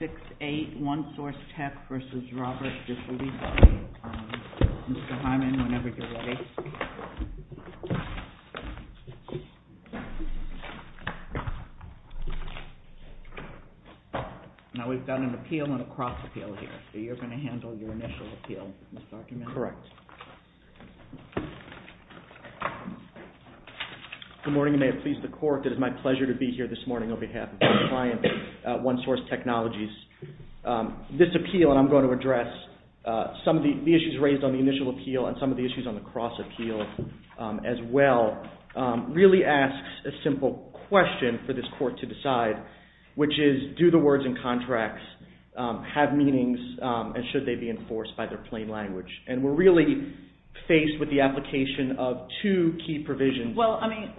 Mr. Hyman, whenever you're ready. Now, we've got an appeal and a cross-appeal here, so you're going to handle your initial appeal, Mr. Archimedes? Correct. Good morning. You may have pleased the court. It is my pleasure to be here this morning on behalf of my client, One Source Technologies. This appeal, and I'm going to address some of the issues raised on the initial appeal and some of the issues on the cross-appeal as well, really asks a simple question for this court to decide, which is, do the words in contracts have meanings and should they be enforced by their plain language? And we're really faced with the application of two key provisions. Well, I mean,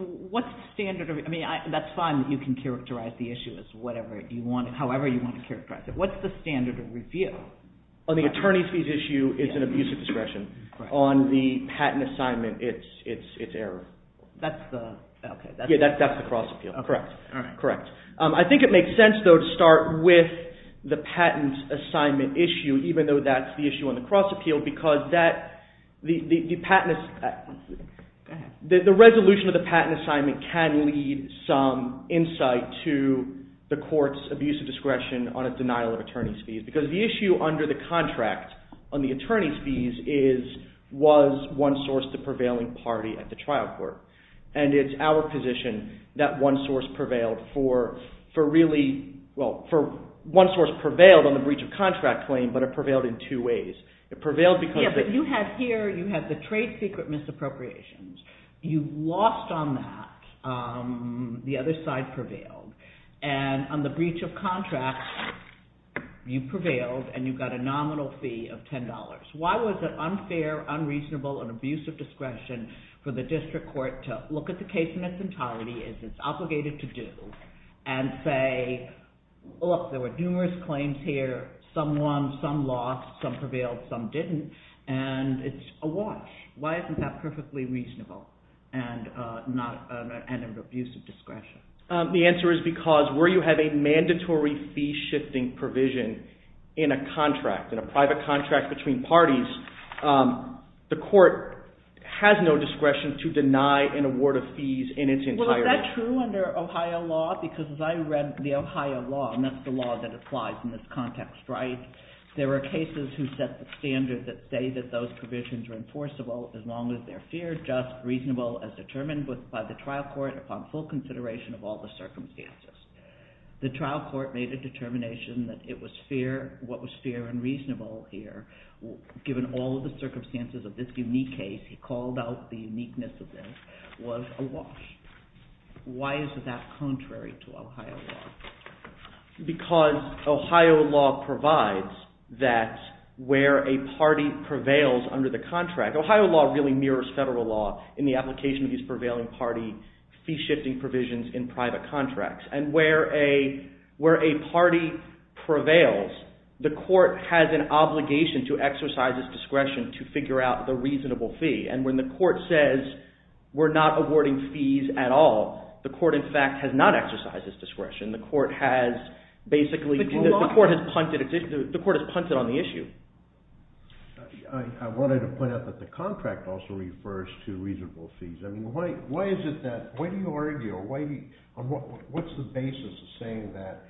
that's fine that you can characterize the issue as however you want to characterize it. What's the standard of review? On the attorney's fees issue, it's an abuse of discretion. On the patent assignment, it's error. That's the cross-appeal. Correct. I think it makes sense, though, to start with the patent assignment issue, even though that's the issue on the cross-appeal, because the resolution of the patent assignment can lead some insight to the court's abuse of discretion on a denial of attorney's fees, because the issue under the contract on the attorney's fees is, was One Source the prevailing party at the trial court? And it's our position that One Source prevailed on the breach of contract claim, but it prevailed in two ways. Yeah, but you had here, you had the trade secret misappropriations. You lost on that. The other side prevailed. And on the breach of contract, you prevailed, and you got a nominal fee of $10. Why was it unfair, unreasonable, an abuse of discretion for the district court to look at the case in its entirety, as it's obligated to do, and say, look, there were numerous claims here. Some won, some lost, some prevailed, some didn't, and it's a watch. Why isn't that perfectly reasonable and an abuse of discretion? The answer is because where you have a mandatory fee-shifting provision in a contract, in a private contract between parties, the court has no discretion to deny an award of fees in its entirety. Is that true under Ohio law? Because as I read the Ohio law, and that's the law that applies in this context, right? There are cases who set the standard that say that those provisions are enforceable as long as they're fair, just, reasonable, as determined by the trial court upon full consideration of all the circumstances. The trial court made a determination that it was fair, what was fair and reasonable here, given all of the circumstances of this unique case, he called out the uniqueness of this, was a watch. Why is that contrary to Ohio law? Because Ohio law provides that where a party prevails under the contract, Ohio law really mirrors federal law in the application of these prevailing party fee-shifting provisions in private contracts. And where a party prevails, the court has an obligation to exercise its discretion to figure out the reasonable fee. And when the court says we're not awarding fees at all, the court in fact has not exercised its discretion. The court has basically, the court has punted on the issue. I wanted to point out that the contract also refers to reasonable fees. Why is it that, why do you argue, what's the basis of saying that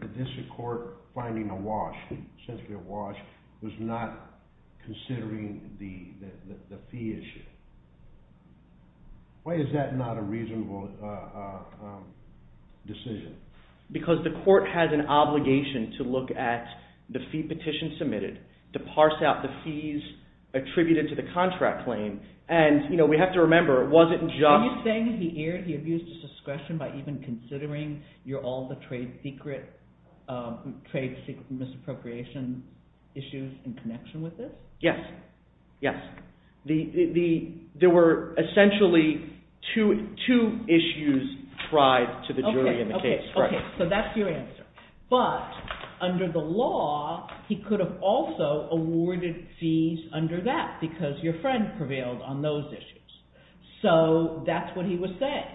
the district court finding a watch, essentially a watch, was not considering the fee issue? Why is that not a reasonable decision? Because the court has an obligation to look at the fee petition submitted, to parse out the fees attributed to the contract claim, and we have to remember, it wasn't just… Are you saying he abused his discretion by even considering all the trade secret, trade secret misappropriation issues in connection with this? Yes, yes. There were essentially two issues tried to the jury in the case. So that's your answer. But under the law, he could have also awarded fees under that because your friend prevailed on those issues. So that's what he was saying.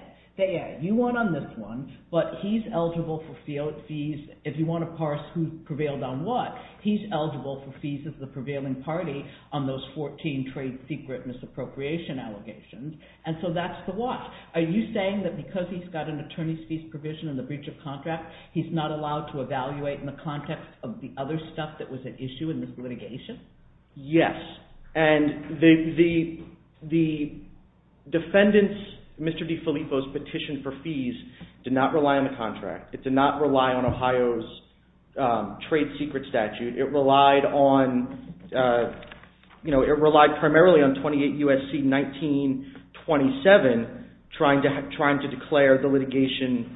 You won on this one, but he's eligible for fees, if you want to parse who prevailed on what, he's eligible for fees of the prevailing party on those 14 trade secret misappropriation allegations, and so that's the watch. Are you saying that because he's got an attorney's fees provision in the breach of contract, he's not allowed to evaluate in the context of the other stuff that was at issue in this litigation? Yes, and the defendant's, Mr. DiFilippo's petition for fees did not rely on the contract. It did not rely on Ohio's trade secret statute. It relied on, you know, it relied primarily on 28 U.S.C. 1927 trying to declare the litigation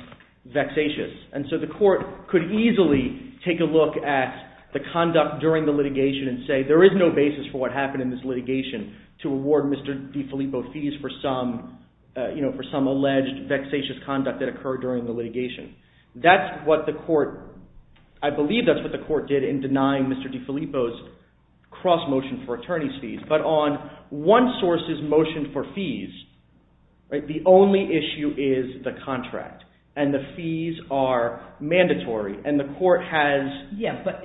vexatious, and so the court could easily take a look at the conduct during the litigation and say there is no basis for what happened in this litigation to award Mr. DiFilippo fees for some alleged vexatious conduct that occurred during the litigation. That's what the court, I believe that's what the court did in denying Mr. DiFilippo's cross motion for attorney's fees, but on one source's motion for fees, right, the only issue is the contract, and the fees are mandatory, and the court has... Yes, but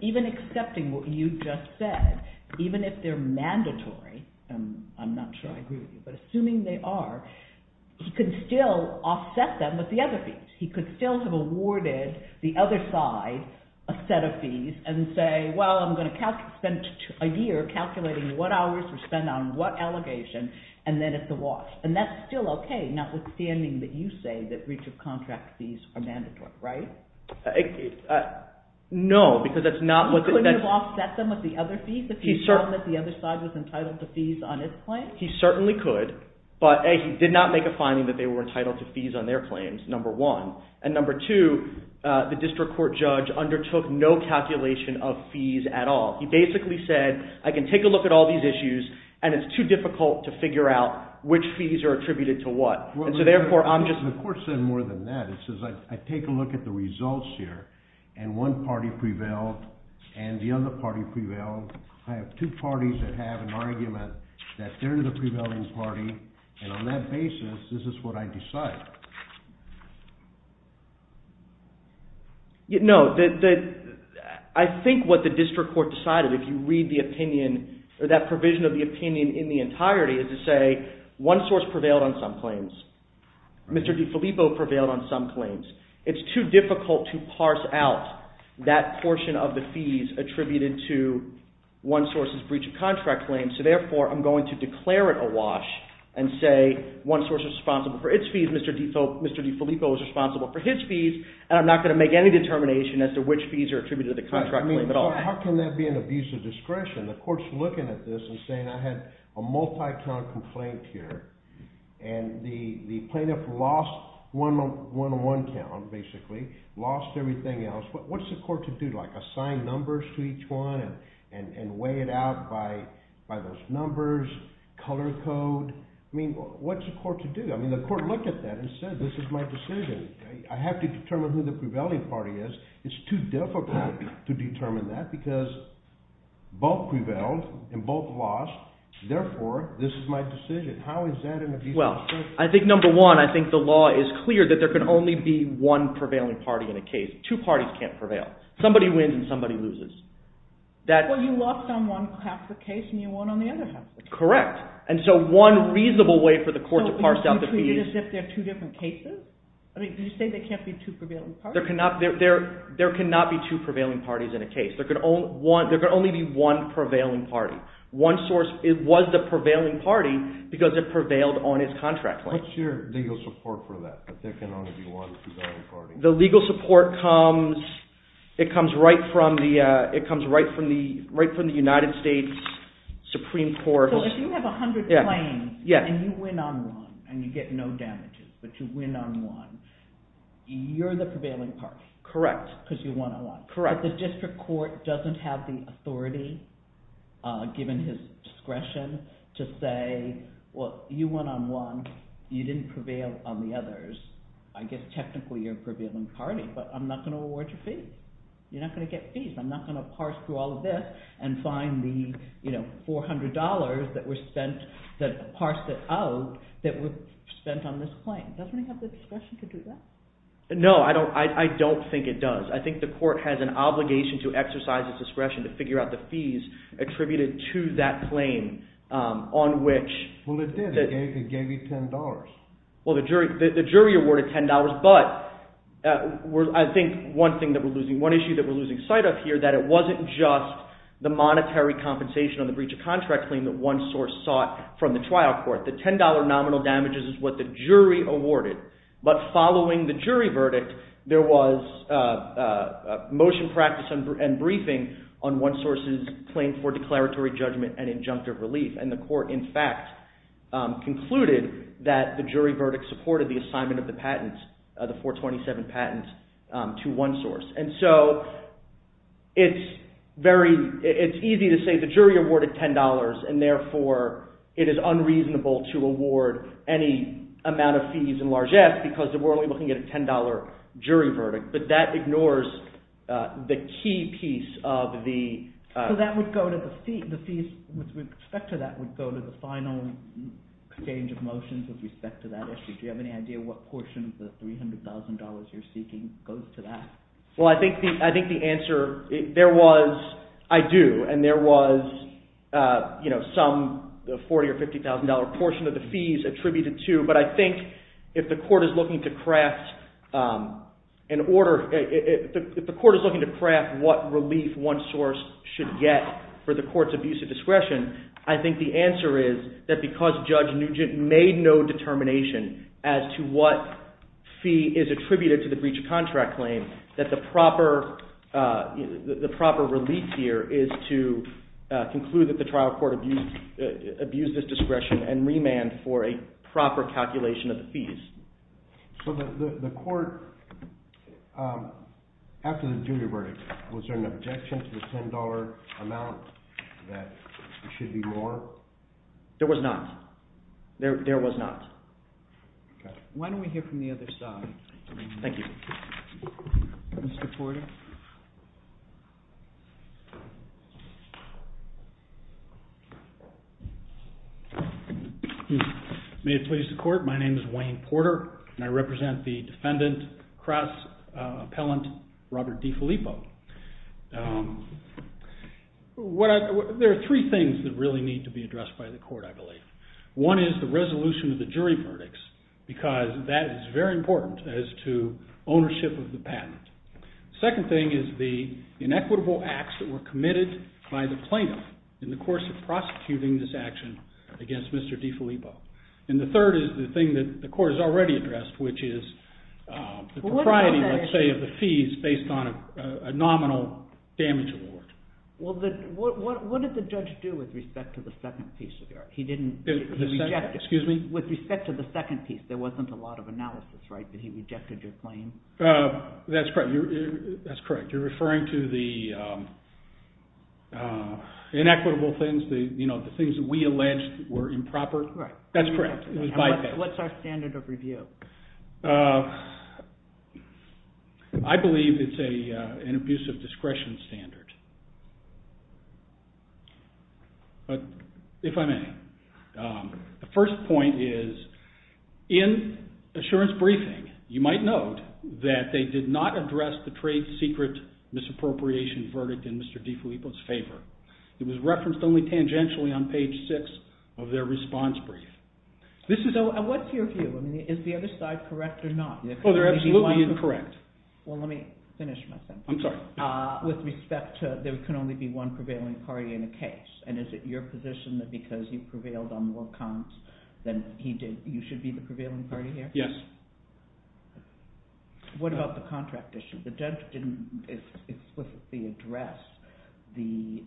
even accepting what you just said, even if they're mandatory, and I'm not sure I agree with you, but assuming they are, he could still offset them with the other fees. He could still have awarded the other side a set of fees and say, well, I'm going to spend a year calculating what hours to spend on what allegation, and then it's a loss, and that's still okay, notwithstanding that you say that breach of contract fees are mandatory, right? No, because that's not what... He couldn't have offset them with the other fees if he had known that the other side was entitled to fees on his claim? He certainly could, but he did not make a finding that they were entitled to fees on their claims, number one, and number two, the district court judge undertook no calculation of fees at all. He basically said, I can take a look at all these issues, and it's too difficult to figure out which fees are attributed to what, and so therefore, I'm just... The court said more than that. It says, I take a look at the results here, and one party prevailed, and the other party prevailed. I have two parties that have an argument that they're the prevailing party, and on that basis, this is what I decide. No, I think what the district court decided, if you read the opinion, or that provision of the opinion in the entirety, is to say one source prevailed on some claims. Mr. DeFilippo prevailed on some claims. It's too difficult to parse out that portion of the fees attributed to one source's breach of contract claim, and so therefore, I'm going to declare it awash and say one source is responsible for its fees. Mr. DeFilippo is responsible for his fees, and I'm not going to make any determination as to which fees are attributed to the contract claim at all. How can that be an abuse of discretion? The court's looking at this and saying, I had a multi-count complaint here, and the plaintiff lost one-on-one count, basically, lost everything else. What's the court to do, like assign numbers to each one and weigh it out by those numbers, color code? I mean, what's the court to do? I mean, the court looked at that and said, this is my decision. I have to determine who the prevailing party is. It's too difficult to determine that because both prevailed and both lost. Therefore, this is my decision. How is that an abuse of discretion? Well, I think, number one, I think the law is clear that there can only be one prevailing party in a case. Two parties can't prevail. Somebody wins and somebody loses. Well, you lost on one half of the case and you won on the other half of the case. Correct. And so one reasonable way for the court to parse out the fees… So you treat it as if there are two different cases? I mean, do you say there can't be two prevailing parties? There cannot be two prevailing parties in a case. There can only be one prevailing party. One source was the prevailing party because it prevailed on his contract claim. What's your legal support for that, that there can only be one prevailing party? The legal support comes right from the United States Supreme Court. So if you have 100 claims and you win on one and you get no damages, but you win on one, you're the prevailing party. Correct. Because you won on one. Correct. But the district court doesn't have the authority, given his discretion, to say, well, you won on one. You didn't prevail on the others. I guess technically you're a prevailing party, but I'm not going to award you fees. You're not going to get fees. I'm not going to parse through all of this and find the $400 that was spent, that parsed it out, that was spent on this claim. Doesn't it have the discretion to do that? No, I don't think it does. I think the court has an obligation to exercise its discretion to figure out the fees attributed to that claim on which… Well, it did. It gave you $10. Well, the jury awarded $10, but I think one thing that we're losing, one issue that we're losing sight of here, that it wasn't just the monetary compensation on the breach of contract claim that one source sought from the trial court. The $10 nominal damages is what the jury awarded, but following the jury verdict, there was motion practice and briefing on one source's claim for declaratory judgment and injunctive relief, and the court, in fact, concluded that the jury verdict supported the assignment of the patent, the 427 patent, to one source. And so it's easy to say the jury awarded $10, and therefore it is unreasonable to award any amount of fees in largesse because we're only looking at a $10 jury verdict, but that ignores the key piece of the… That would go to the final change of motions with respect to that issue. Do you have any idea what portion of the $300,000 you're seeking goes to that? Well, I think the answer… There was… I do, and there was some $40,000 or $50,000 portion of the fees attributed to, but I think if the court is looking to craft an order… If the court is looking to craft what relief one source should get for the court's abuse of discretion, I think the answer is that because Judge Nugent made no determination as to what fee is attributed to the breach of contract claim, that the proper relief here is to conclude that the trial court abused its discretion and remand for a proper calculation of the fees. So the court… After the jury verdict, was there an objection to the $10 amount that there should be more? There was not. There was not. Okay. Why don't we hear from the other side? Thank you. Mr. Porter? Thank you. May it please the court, my name is Wayne Porter, and I represent the defendant, cross-appellant Robert DeFilippo. There are three things that really need to be addressed by the court, I believe. One is the resolution of the jury verdicts, because that is very important as to ownership of the patent. The second thing is the inequitable acts that were committed by the plaintiff in the course of prosecuting this action against Mr. DeFilippo. And the third is the thing that the court has already addressed, which is the propriety, let's say, of the fees based on a nominal damage award. Well, what did the judge do with respect to the second piece? He didn't… Excuse me? With respect to the second piece, there wasn't a lot of analysis, right? Did he reject your claim? That's correct. You're referring to the inequitable things, the things that we alleged were improper? That's correct. What's our standard of review? I believe it's an abusive discretion standard. If I may, the first point is in assurance briefing, you might note that they did not address the trade secret misappropriation verdict in Mr. DeFilippo's favor. It was referenced only tangentially on page 6 of their response brief. So what's your view? Is the other side correct or not? Oh, they're absolutely incorrect. Well, let me finish my sentence. I'm sorry. With respect to there can only be one prevailing party in a case, and is it your position that because you prevailed on more cons than he did, you should be the prevailing party here? Yes. What about the contract issue? The judge didn't explicitly address the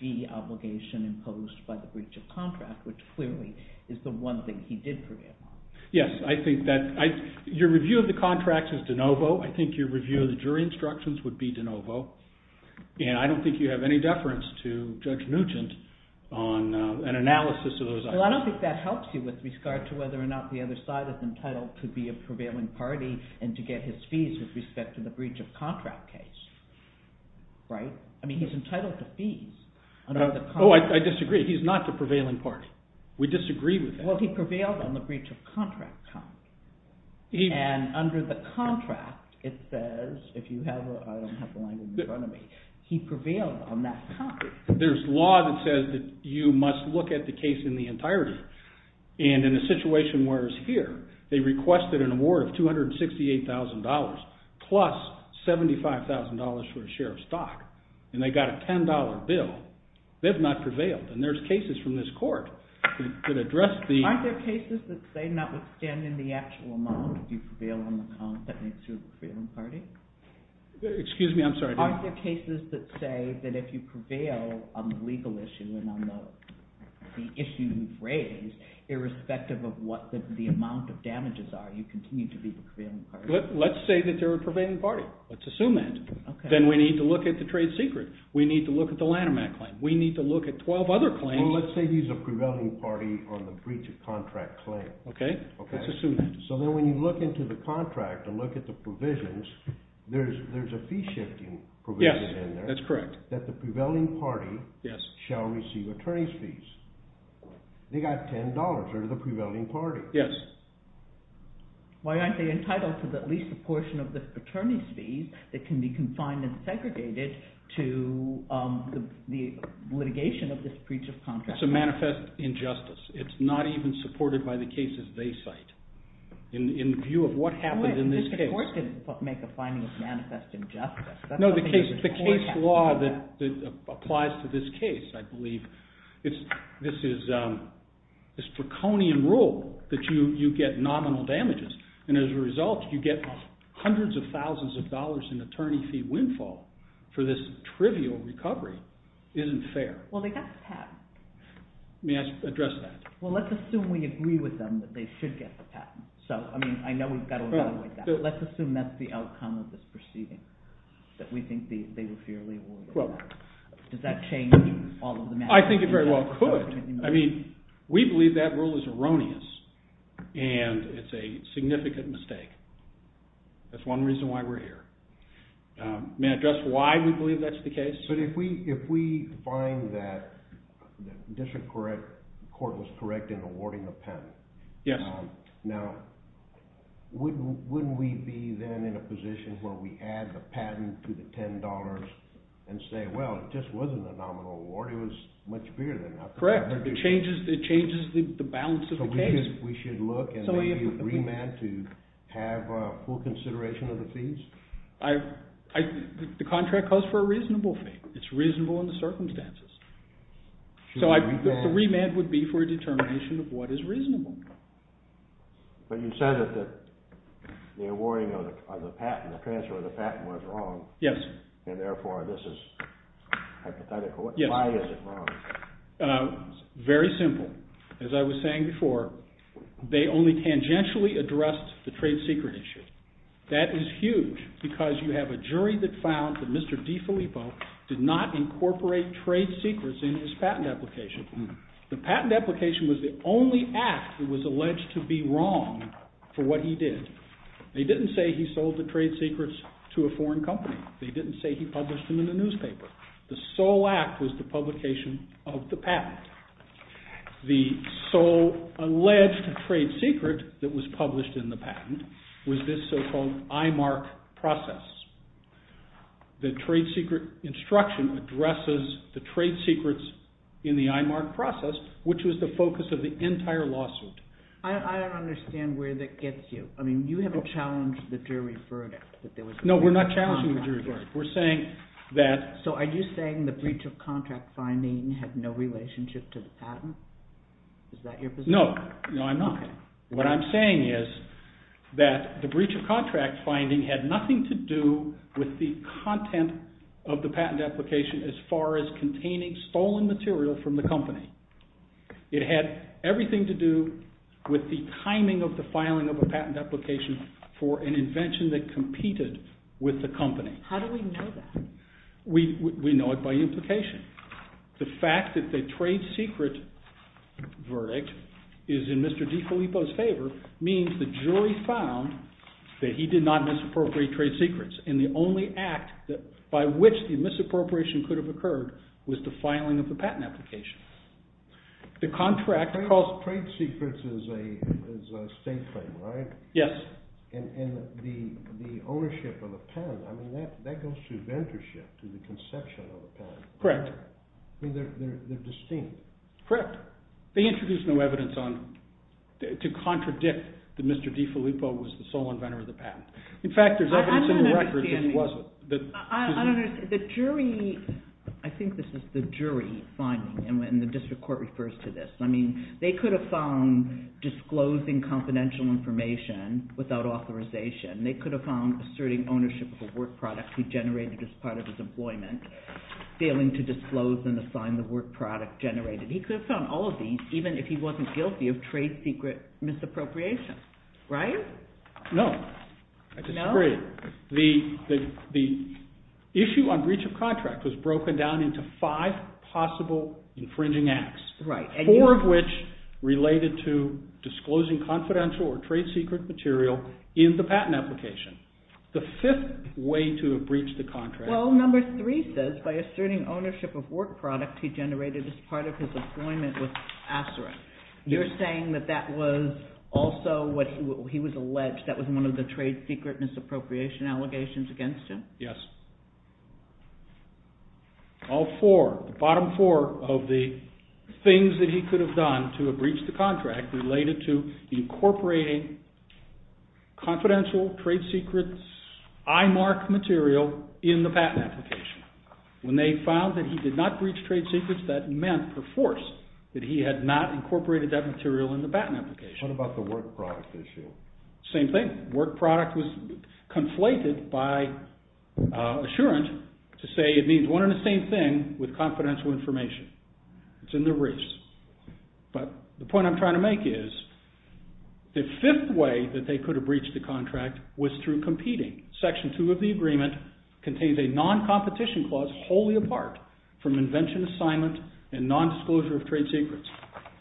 fee obligation imposed by the breach of contract, which clearly is the one thing he did prevail on. Yes, I think that your review of the contract is de novo. I think your review of the jury instructions would be de novo. And I don't think you have any deference to Judge Nugent on an analysis of those items. Well, I don't think that helps you with regard to whether or not the other side is entitled to be a prevailing party and to get his fees with respect to the breach of contract case, right? I mean, he's entitled to fees. Oh, I disagree. He's not the prevailing party. We disagree with that. Well, he prevailed on the breach of contract. And under the contract, it says, if you have, I don't have the language in front of me, he prevailed on that copy. There's law that says that you must look at the case in the entirety. And in a situation where it's here, they requested an award of $268,000 plus $75,000 for a share of stock, and they got a $10 bill. They've not prevailed. And there's cases from this court that address the… Aren't there cases that say notwithstanding the actual amount that you prevail on the contract, that makes you a prevailing party? Excuse me, I'm sorry. Aren't there cases that say that if you prevail on the legal issue and on the issue you've raised, irrespective of what the amount of damages are, you continue to be the prevailing party? Let's say that they're a prevailing party. Let's assume that. Then we need to look at the trade secret. We need to look at the Lanham Act claim. We need to look at 12 other claims. Well, let's say he's a prevailing party on the breach of contract claim. Okay. Let's assume that. So then when you look into the contract and look at the provisions, there's a fee-shifting provision in there. Yes, that's correct. That the prevailing party shall receive attorney's fees. They got $10. They're the prevailing party. Yes. Why aren't they entitled to at least a portion of the attorney's fees that can be confined and segregated to the litigation of this breach of contract? It's a manifest injustice. It's not even supported by the cases they cite in view of what happened in this case. Well, this court didn't make a finding of manifest injustice. No, the case law that applies to this case, I believe, this is a draconian rule that you get nominal damages, and as a result, you get hundreds of thousands of dollars in attorney fee windfall for this trivial recovery. It isn't fair. Well, they got the patent. May I address that? Well, let's assume we agree with them that they should get the patent. So, I mean, I know we've got to evaluate that, but let's assume that's the outcome of this proceeding, that we think they were fairly awarded. Does that change all of the matters? I think it very well could. I mean, we believe that rule is erroneous, and it's a significant mistake. That's one reason why we're here. May I address why we believe that's the case? But if we find that the district court was correct in awarding the patent. Yes. Now, wouldn't we be then in a position where we add the patent to the $10 and say, well, it just wasn't a nominal award. It was much bigger than that. Correct. It changes the balance of the case. So we should look and maybe remand to have full consideration of the fees? The contract calls for a reasonable fee. It's reasonable in the circumstances. So the remand would be for a determination of what is reasonable. But you said that the awarding of the patent, the transfer of the patent was wrong. Yes. And therefore, this is hypothetical. Why is it wrong? Very simple. As I was saying before, they only tangentially addressed the trade secret issue. That is huge because you have a jury that found that Mr. DeFilippo did not incorporate trade secrets in his patent application. The patent application was the only act that was alleged to be wrong for what he did. They didn't say he sold the trade secrets to a foreign company. They didn't say he published them in a newspaper. The sole act was the publication of the patent. The sole alleged trade secret that was published in the patent was this so-called IMARC process. The trade secret instruction addresses the trade secrets in the IMARC process, which was the focus of the entire lawsuit. I don't understand where that gets you. I mean, you haven't challenged the jury verdict that there was a contract. No, we're not challenging the jury verdict. We're saying that... So are you saying the breach of contract finding had no relationship to the patent? Is that your position? No, I'm not. What I'm saying is that the breach of contract finding had nothing to do with the content of the patent application as far as containing stolen material from the company. It had everything to do with the timing of the filing of a patent application for an invention that competed with the company. How do we know that? We know it by implication. The fact that the trade secret verdict is in Mr. DiFilippo's favor means the jury found that he did not misappropriate trade secrets. And the only act by which the misappropriation could have occurred was the filing of the patent application. Trade secrets is a state thing, right? Yes. And the ownership of the patent, I mean, that goes to inventorship, to the conception of the patent. Correct. I mean, they're distinct. Correct. They introduce no evidence to contradict that Mr. DiFilippo was the sole inventor of the patent. In fact, there's evidence in the record that he wasn't. I don't understand. I think this is the jury finding, and the district court refers to this. I mean, they could have found disclosing confidential information without authorization. They could have found asserting ownership of a work product he generated as part of his employment, failing to disclose and assign the work product generated. He could have found all of these, even if he wasn't guilty of trade secret misappropriation, right? No. No? I disagree. The issue on breach of contract was broken down into five possible infringing acts. Right. Four of which related to disclosing confidential or trade secret material in the patent application. The fifth way to have breached the contract. Well, number three says, by asserting ownership of work product he generated as part of his employment with Acerin. You're saying that that was also what he was alleged, that was one of the trade secret misappropriation allegations against him? Yes. All four, the bottom four of the things that he could have done to have breached the contract related to incorporating confidential trade secret IMARC material in the patent application. When they found that he did not breach trade secrets, that meant, per force, that he had not incorporated that material in the patent application. What about the work product issue? Same thing. Work product was conflated by assurance to say it means one and the same thing with confidential information. It's in the race. But the point I'm trying to make is, the fifth way that they could have breached the contract was through competing. Section two of the agreement contains a non-competition clause wholly apart from invention assignment and nondisclosure of trade secrets.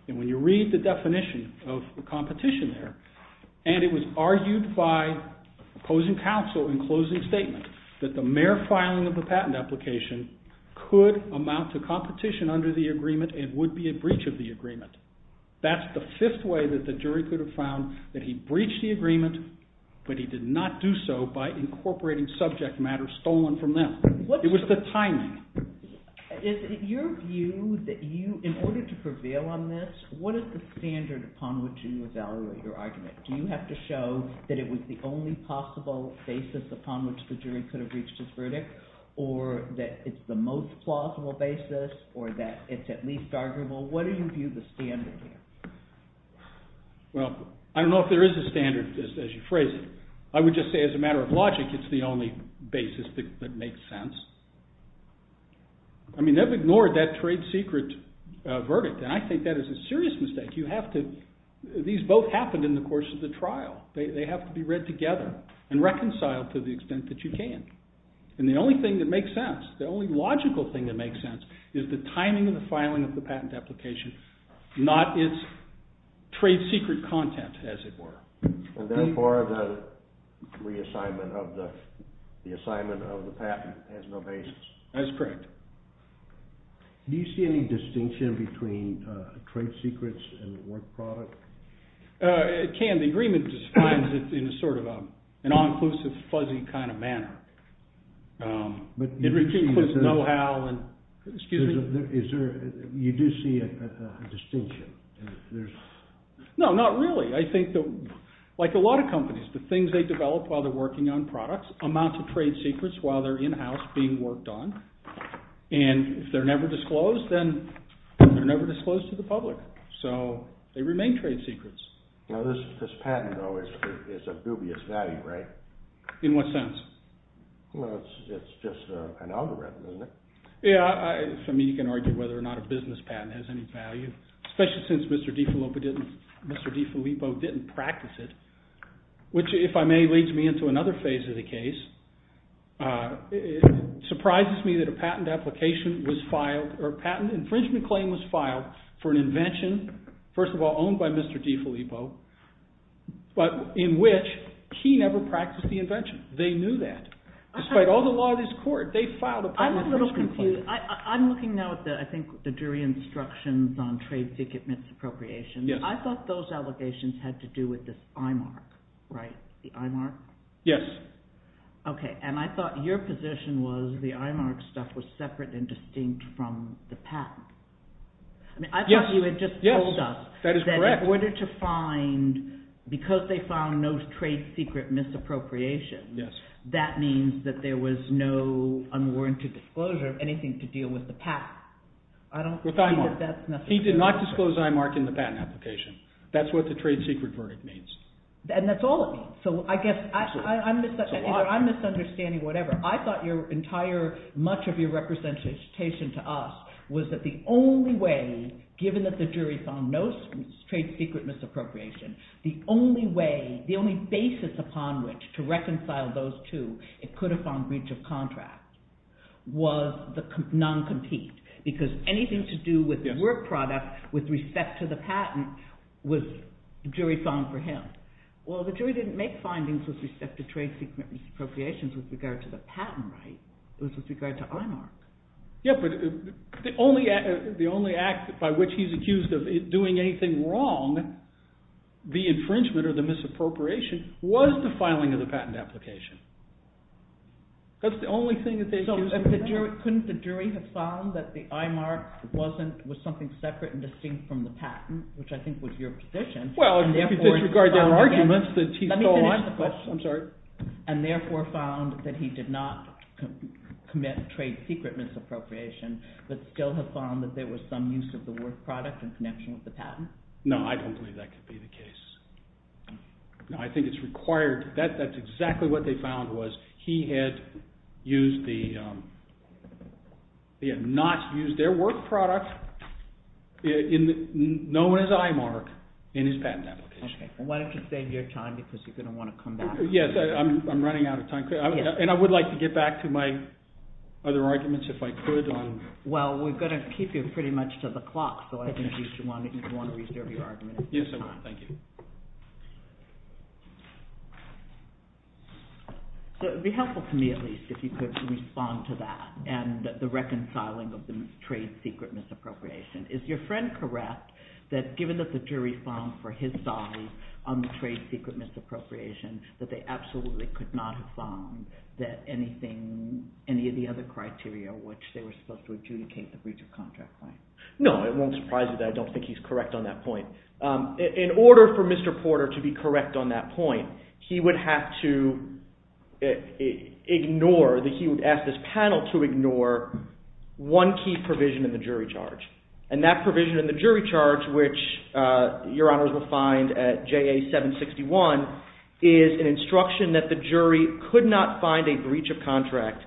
And when you read the definition of competition there, and it was argued by opposing counsel in closing statement, that the mere filing of the patent application could amount to competition under the agreement and would be a breach of the agreement. That's the fifth way that the jury could have found that he breached the agreement, but he did not do so by incorporating subject matter stolen from them. It was the timing. Is it your view that you, in order to prevail on this, what is the standard upon which you evaluate your argument? Do you have to show that it was the only possible basis upon which the jury could have reached its verdict? Or that it's the most plausible basis? Or that it's at least arguable? What do you view the standard here? Well, I don't know if there is a standard as you phrase it. I would just say, as a matter of logic, it's the only basis that makes sense. I mean, they've ignored that trade secret verdict, and I think that is a serious mistake. These both happened in the course of the trial. They have to be read together and reconciled to the extent that you can. And the only thing that makes sense, the only logical thing that makes sense, is the timing of the filing of the patent application, not its trade secret content, as it were. And therefore, the reassignment of the patent has no basis. That is correct. Do you see any distinction between trade secrets and work product? It can. The agreement defines it in a sort of an all-inclusive, fuzzy kind of manner. But you do see a distinction. No, not really. I think that, like a lot of companies, the things they develop while they're working on products amount to trade secrets while they're in-house being worked on. And if they're never disclosed, then they're never disclosed to the public. So they remain trade secrets. Now, this patent, though, is of dubious value, right? In what sense? Well, it's just an algorithm, isn't it? Yeah. I mean, you can argue whether or not a business patent has any value, especially since Mr. DiFilippo didn't practice it, which, if I may, leads me into another phase of the case. It surprises me that a patent infringement claim was filed for an invention, first of all, owned by Mr. DiFilippo, but in which he never practiced the invention. They knew that. Despite all the law of this court, they filed a patent infringement claim. I'm a little confused. I'm looking now at, I think, the jury instructions on trade secret misappropriation. I thought those allegations had to do with this IMARC, right? The IMARC? Yes. Okay, and I thought your position was the IMARC stuff was separate and distinct from the patent. I mean, I thought you had just told us that in order to find, because they found no trade secret misappropriation, that means that there was no unwarranted disclosure of anything to deal with the patent. I don't see that that's necessary. He did not disclose IMARC in the patent application. That's what the trade secret verdict means. And that's all it means. So I guess I'm misunderstanding whatever. I thought your entire, much of your representation to us was that the only way, given that the jury found no trade secret misappropriation, the only way, the only basis upon which to reconcile those two, it could have found breach of contract, was the non-compete. Because anything to do with work product with respect to the patent was jury found for him. Well, the jury didn't make findings with respect to trade secret misappropriations with regard to the patent, right? It was with regard to IMARC. Yeah, but the only act by which he's accused of doing anything wrong, the infringement or the misappropriation, was the filing of the patent application. That's the only thing that they accused him of. Couldn't the jury have found that the IMARC was something separate and distinct from the patent, which I think was your position? Well, disregard their arguments. Let me finish the question. I'm sorry. And therefore found that he did not commit trade secret misappropriation, but still have found that there was some use of the work product in connection with the patent? No, I don't believe that could be the case. I think it's required. That's exactly what they found, was he had not used their work product, known as IMARC, in his patent application. Why don't you save your time, because you're going to want to come back. Yes, I'm running out of time. And I would like to get back to my other arguments if I could. Well, we're going to keep you pretty much to the clock, so I think you should want to reserve your argument. Yes, I will. Thank you. So it would be helpful to me, at least, if you could respond to that and the reconciling of the trade secret misappropriation. Is your friend correct that given that the jury found for his side on the trade secret misappropriation that they absolutely could not have found that anything – any of the other criteria which they were supposed to adjudicate the breach of contract claim? No, it won't surprise you that I don't think he's correct on that point. In order for Mr. Porter to be correct on that point, he would have to ignore – he would ask this panel to ignore one key provision in the jury charge. And that provision in the jury charge, which Your Honors will find at JA 761, is an instruction that the jury could not find a breach of contract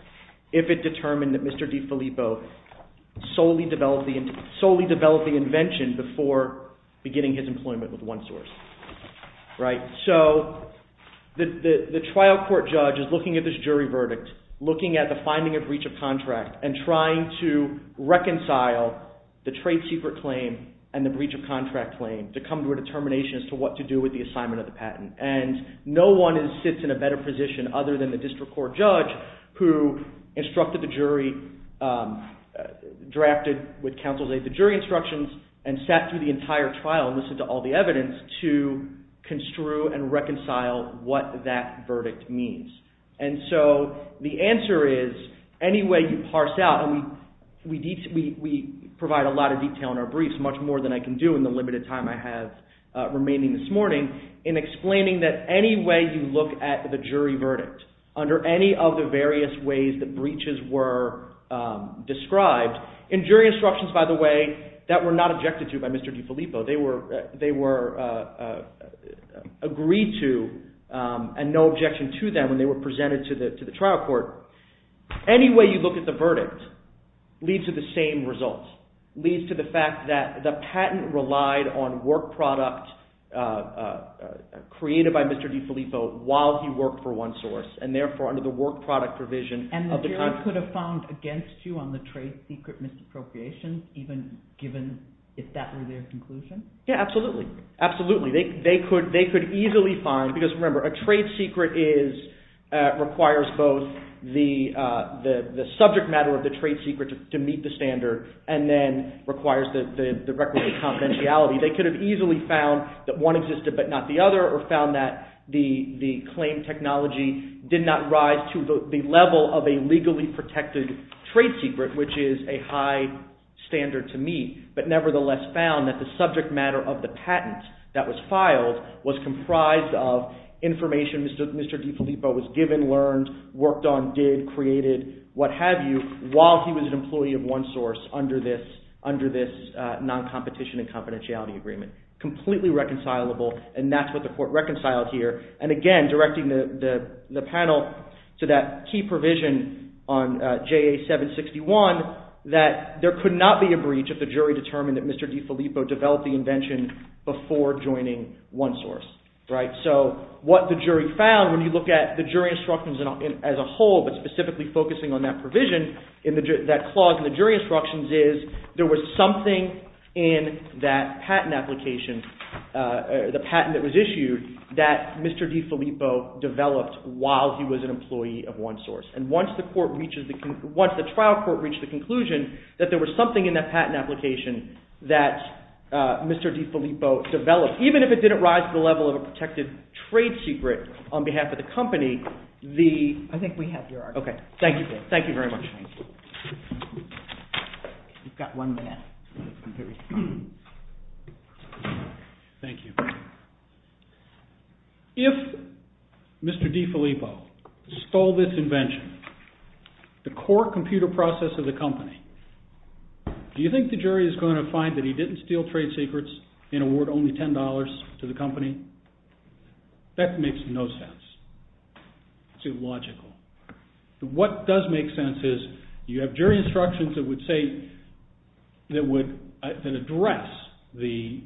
if it determined that Mr. DiFilippo solely developed the invention before beginning his employment with OneSource. So the trial court judge is looking at this jury verdict, looking at the finding of breach of contract, and trying to reconcile the trade secret claim and the breach of contract claim to come to a determination as to what to do with the assignment of the patent. And no one sits in a better position other than the district court judge who instructed the jury, drafted with counsel's aid the jury instructions, and sat through the entire trial and listened to all the evidence to construe and reconcile what that verdict means. And so the answer is, any way you parse out – and we provide a lot of detail in our briefs, much more than I can do in the limited time I have remaining this morning – in explaining that any way you look at the jury verdict under any of the various ways that breaches were described – or presented to the trial court – any way you look at the verdict leads to the same result. It leads to the fact that the patent relied on work product created by Mr. DiFilippo while he worked for OneSource, and therefore under the work product provision of the contract. And the jury could have found against you on the trade secret misappropriation, even given if that were their conclusion? Yeah, absolutely. Absolutely. They could easily find – because remember, a trade secret requires both the subject matter of the trade secret to meet the standard, and then requires the record of confidentiality. They could have easily found that one existed but not the other, or found that the claim technology did not rise to the level of a legally protected trade secret, which is a high standard to meet, but nevertheless found that the subject matter of the patent that was filed was comprised of information Mr. DiFilippo was given, learned, worked on, did, created, what have you, while he was an employee of OneSource under this non-competition and confidentiality agreement. Completely reconcilable, and that's what the court reconciled here. And again, directing the panel to that key provision on JA761, that there could not be a breach if the jury determined that Mr. DiFilippo developed the invention before joining OneSource. So what the jury found when you look at the jury instructions as a whole, but specifically focusing on that provision, that clause in the jury instructions is there was something in that patent application, the patent that was issued, that Mr. DiFilippo developed while he was an employee of OneSource. And once the trial court reached the conclusion that there was something in that patent application that Mr. DiFilippo developed, even if it didn't rise to the level of a protected trade secret on behalf of the company, the… Mr. DiFilippo stole this invention, the core computer process of the company. Do you think the jury is going to find that he didn't steal trade secrets and award only $10 to the company? That makes no sense. It's illogical. What does make sense is you have jury instructions that would address the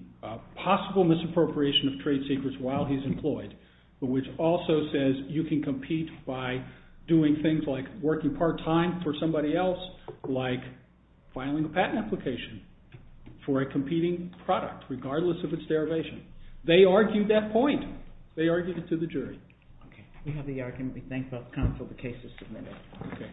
possible misappropriation of trade secrets while he's employed, but which also says you can compete by doing things like working part-time for somebody else, like filing a patent application for a competing product, regardless of its derivation. They argued that point. They argued it to the jury. Okay. We have the argument. We thank both counsel. The case is submitted.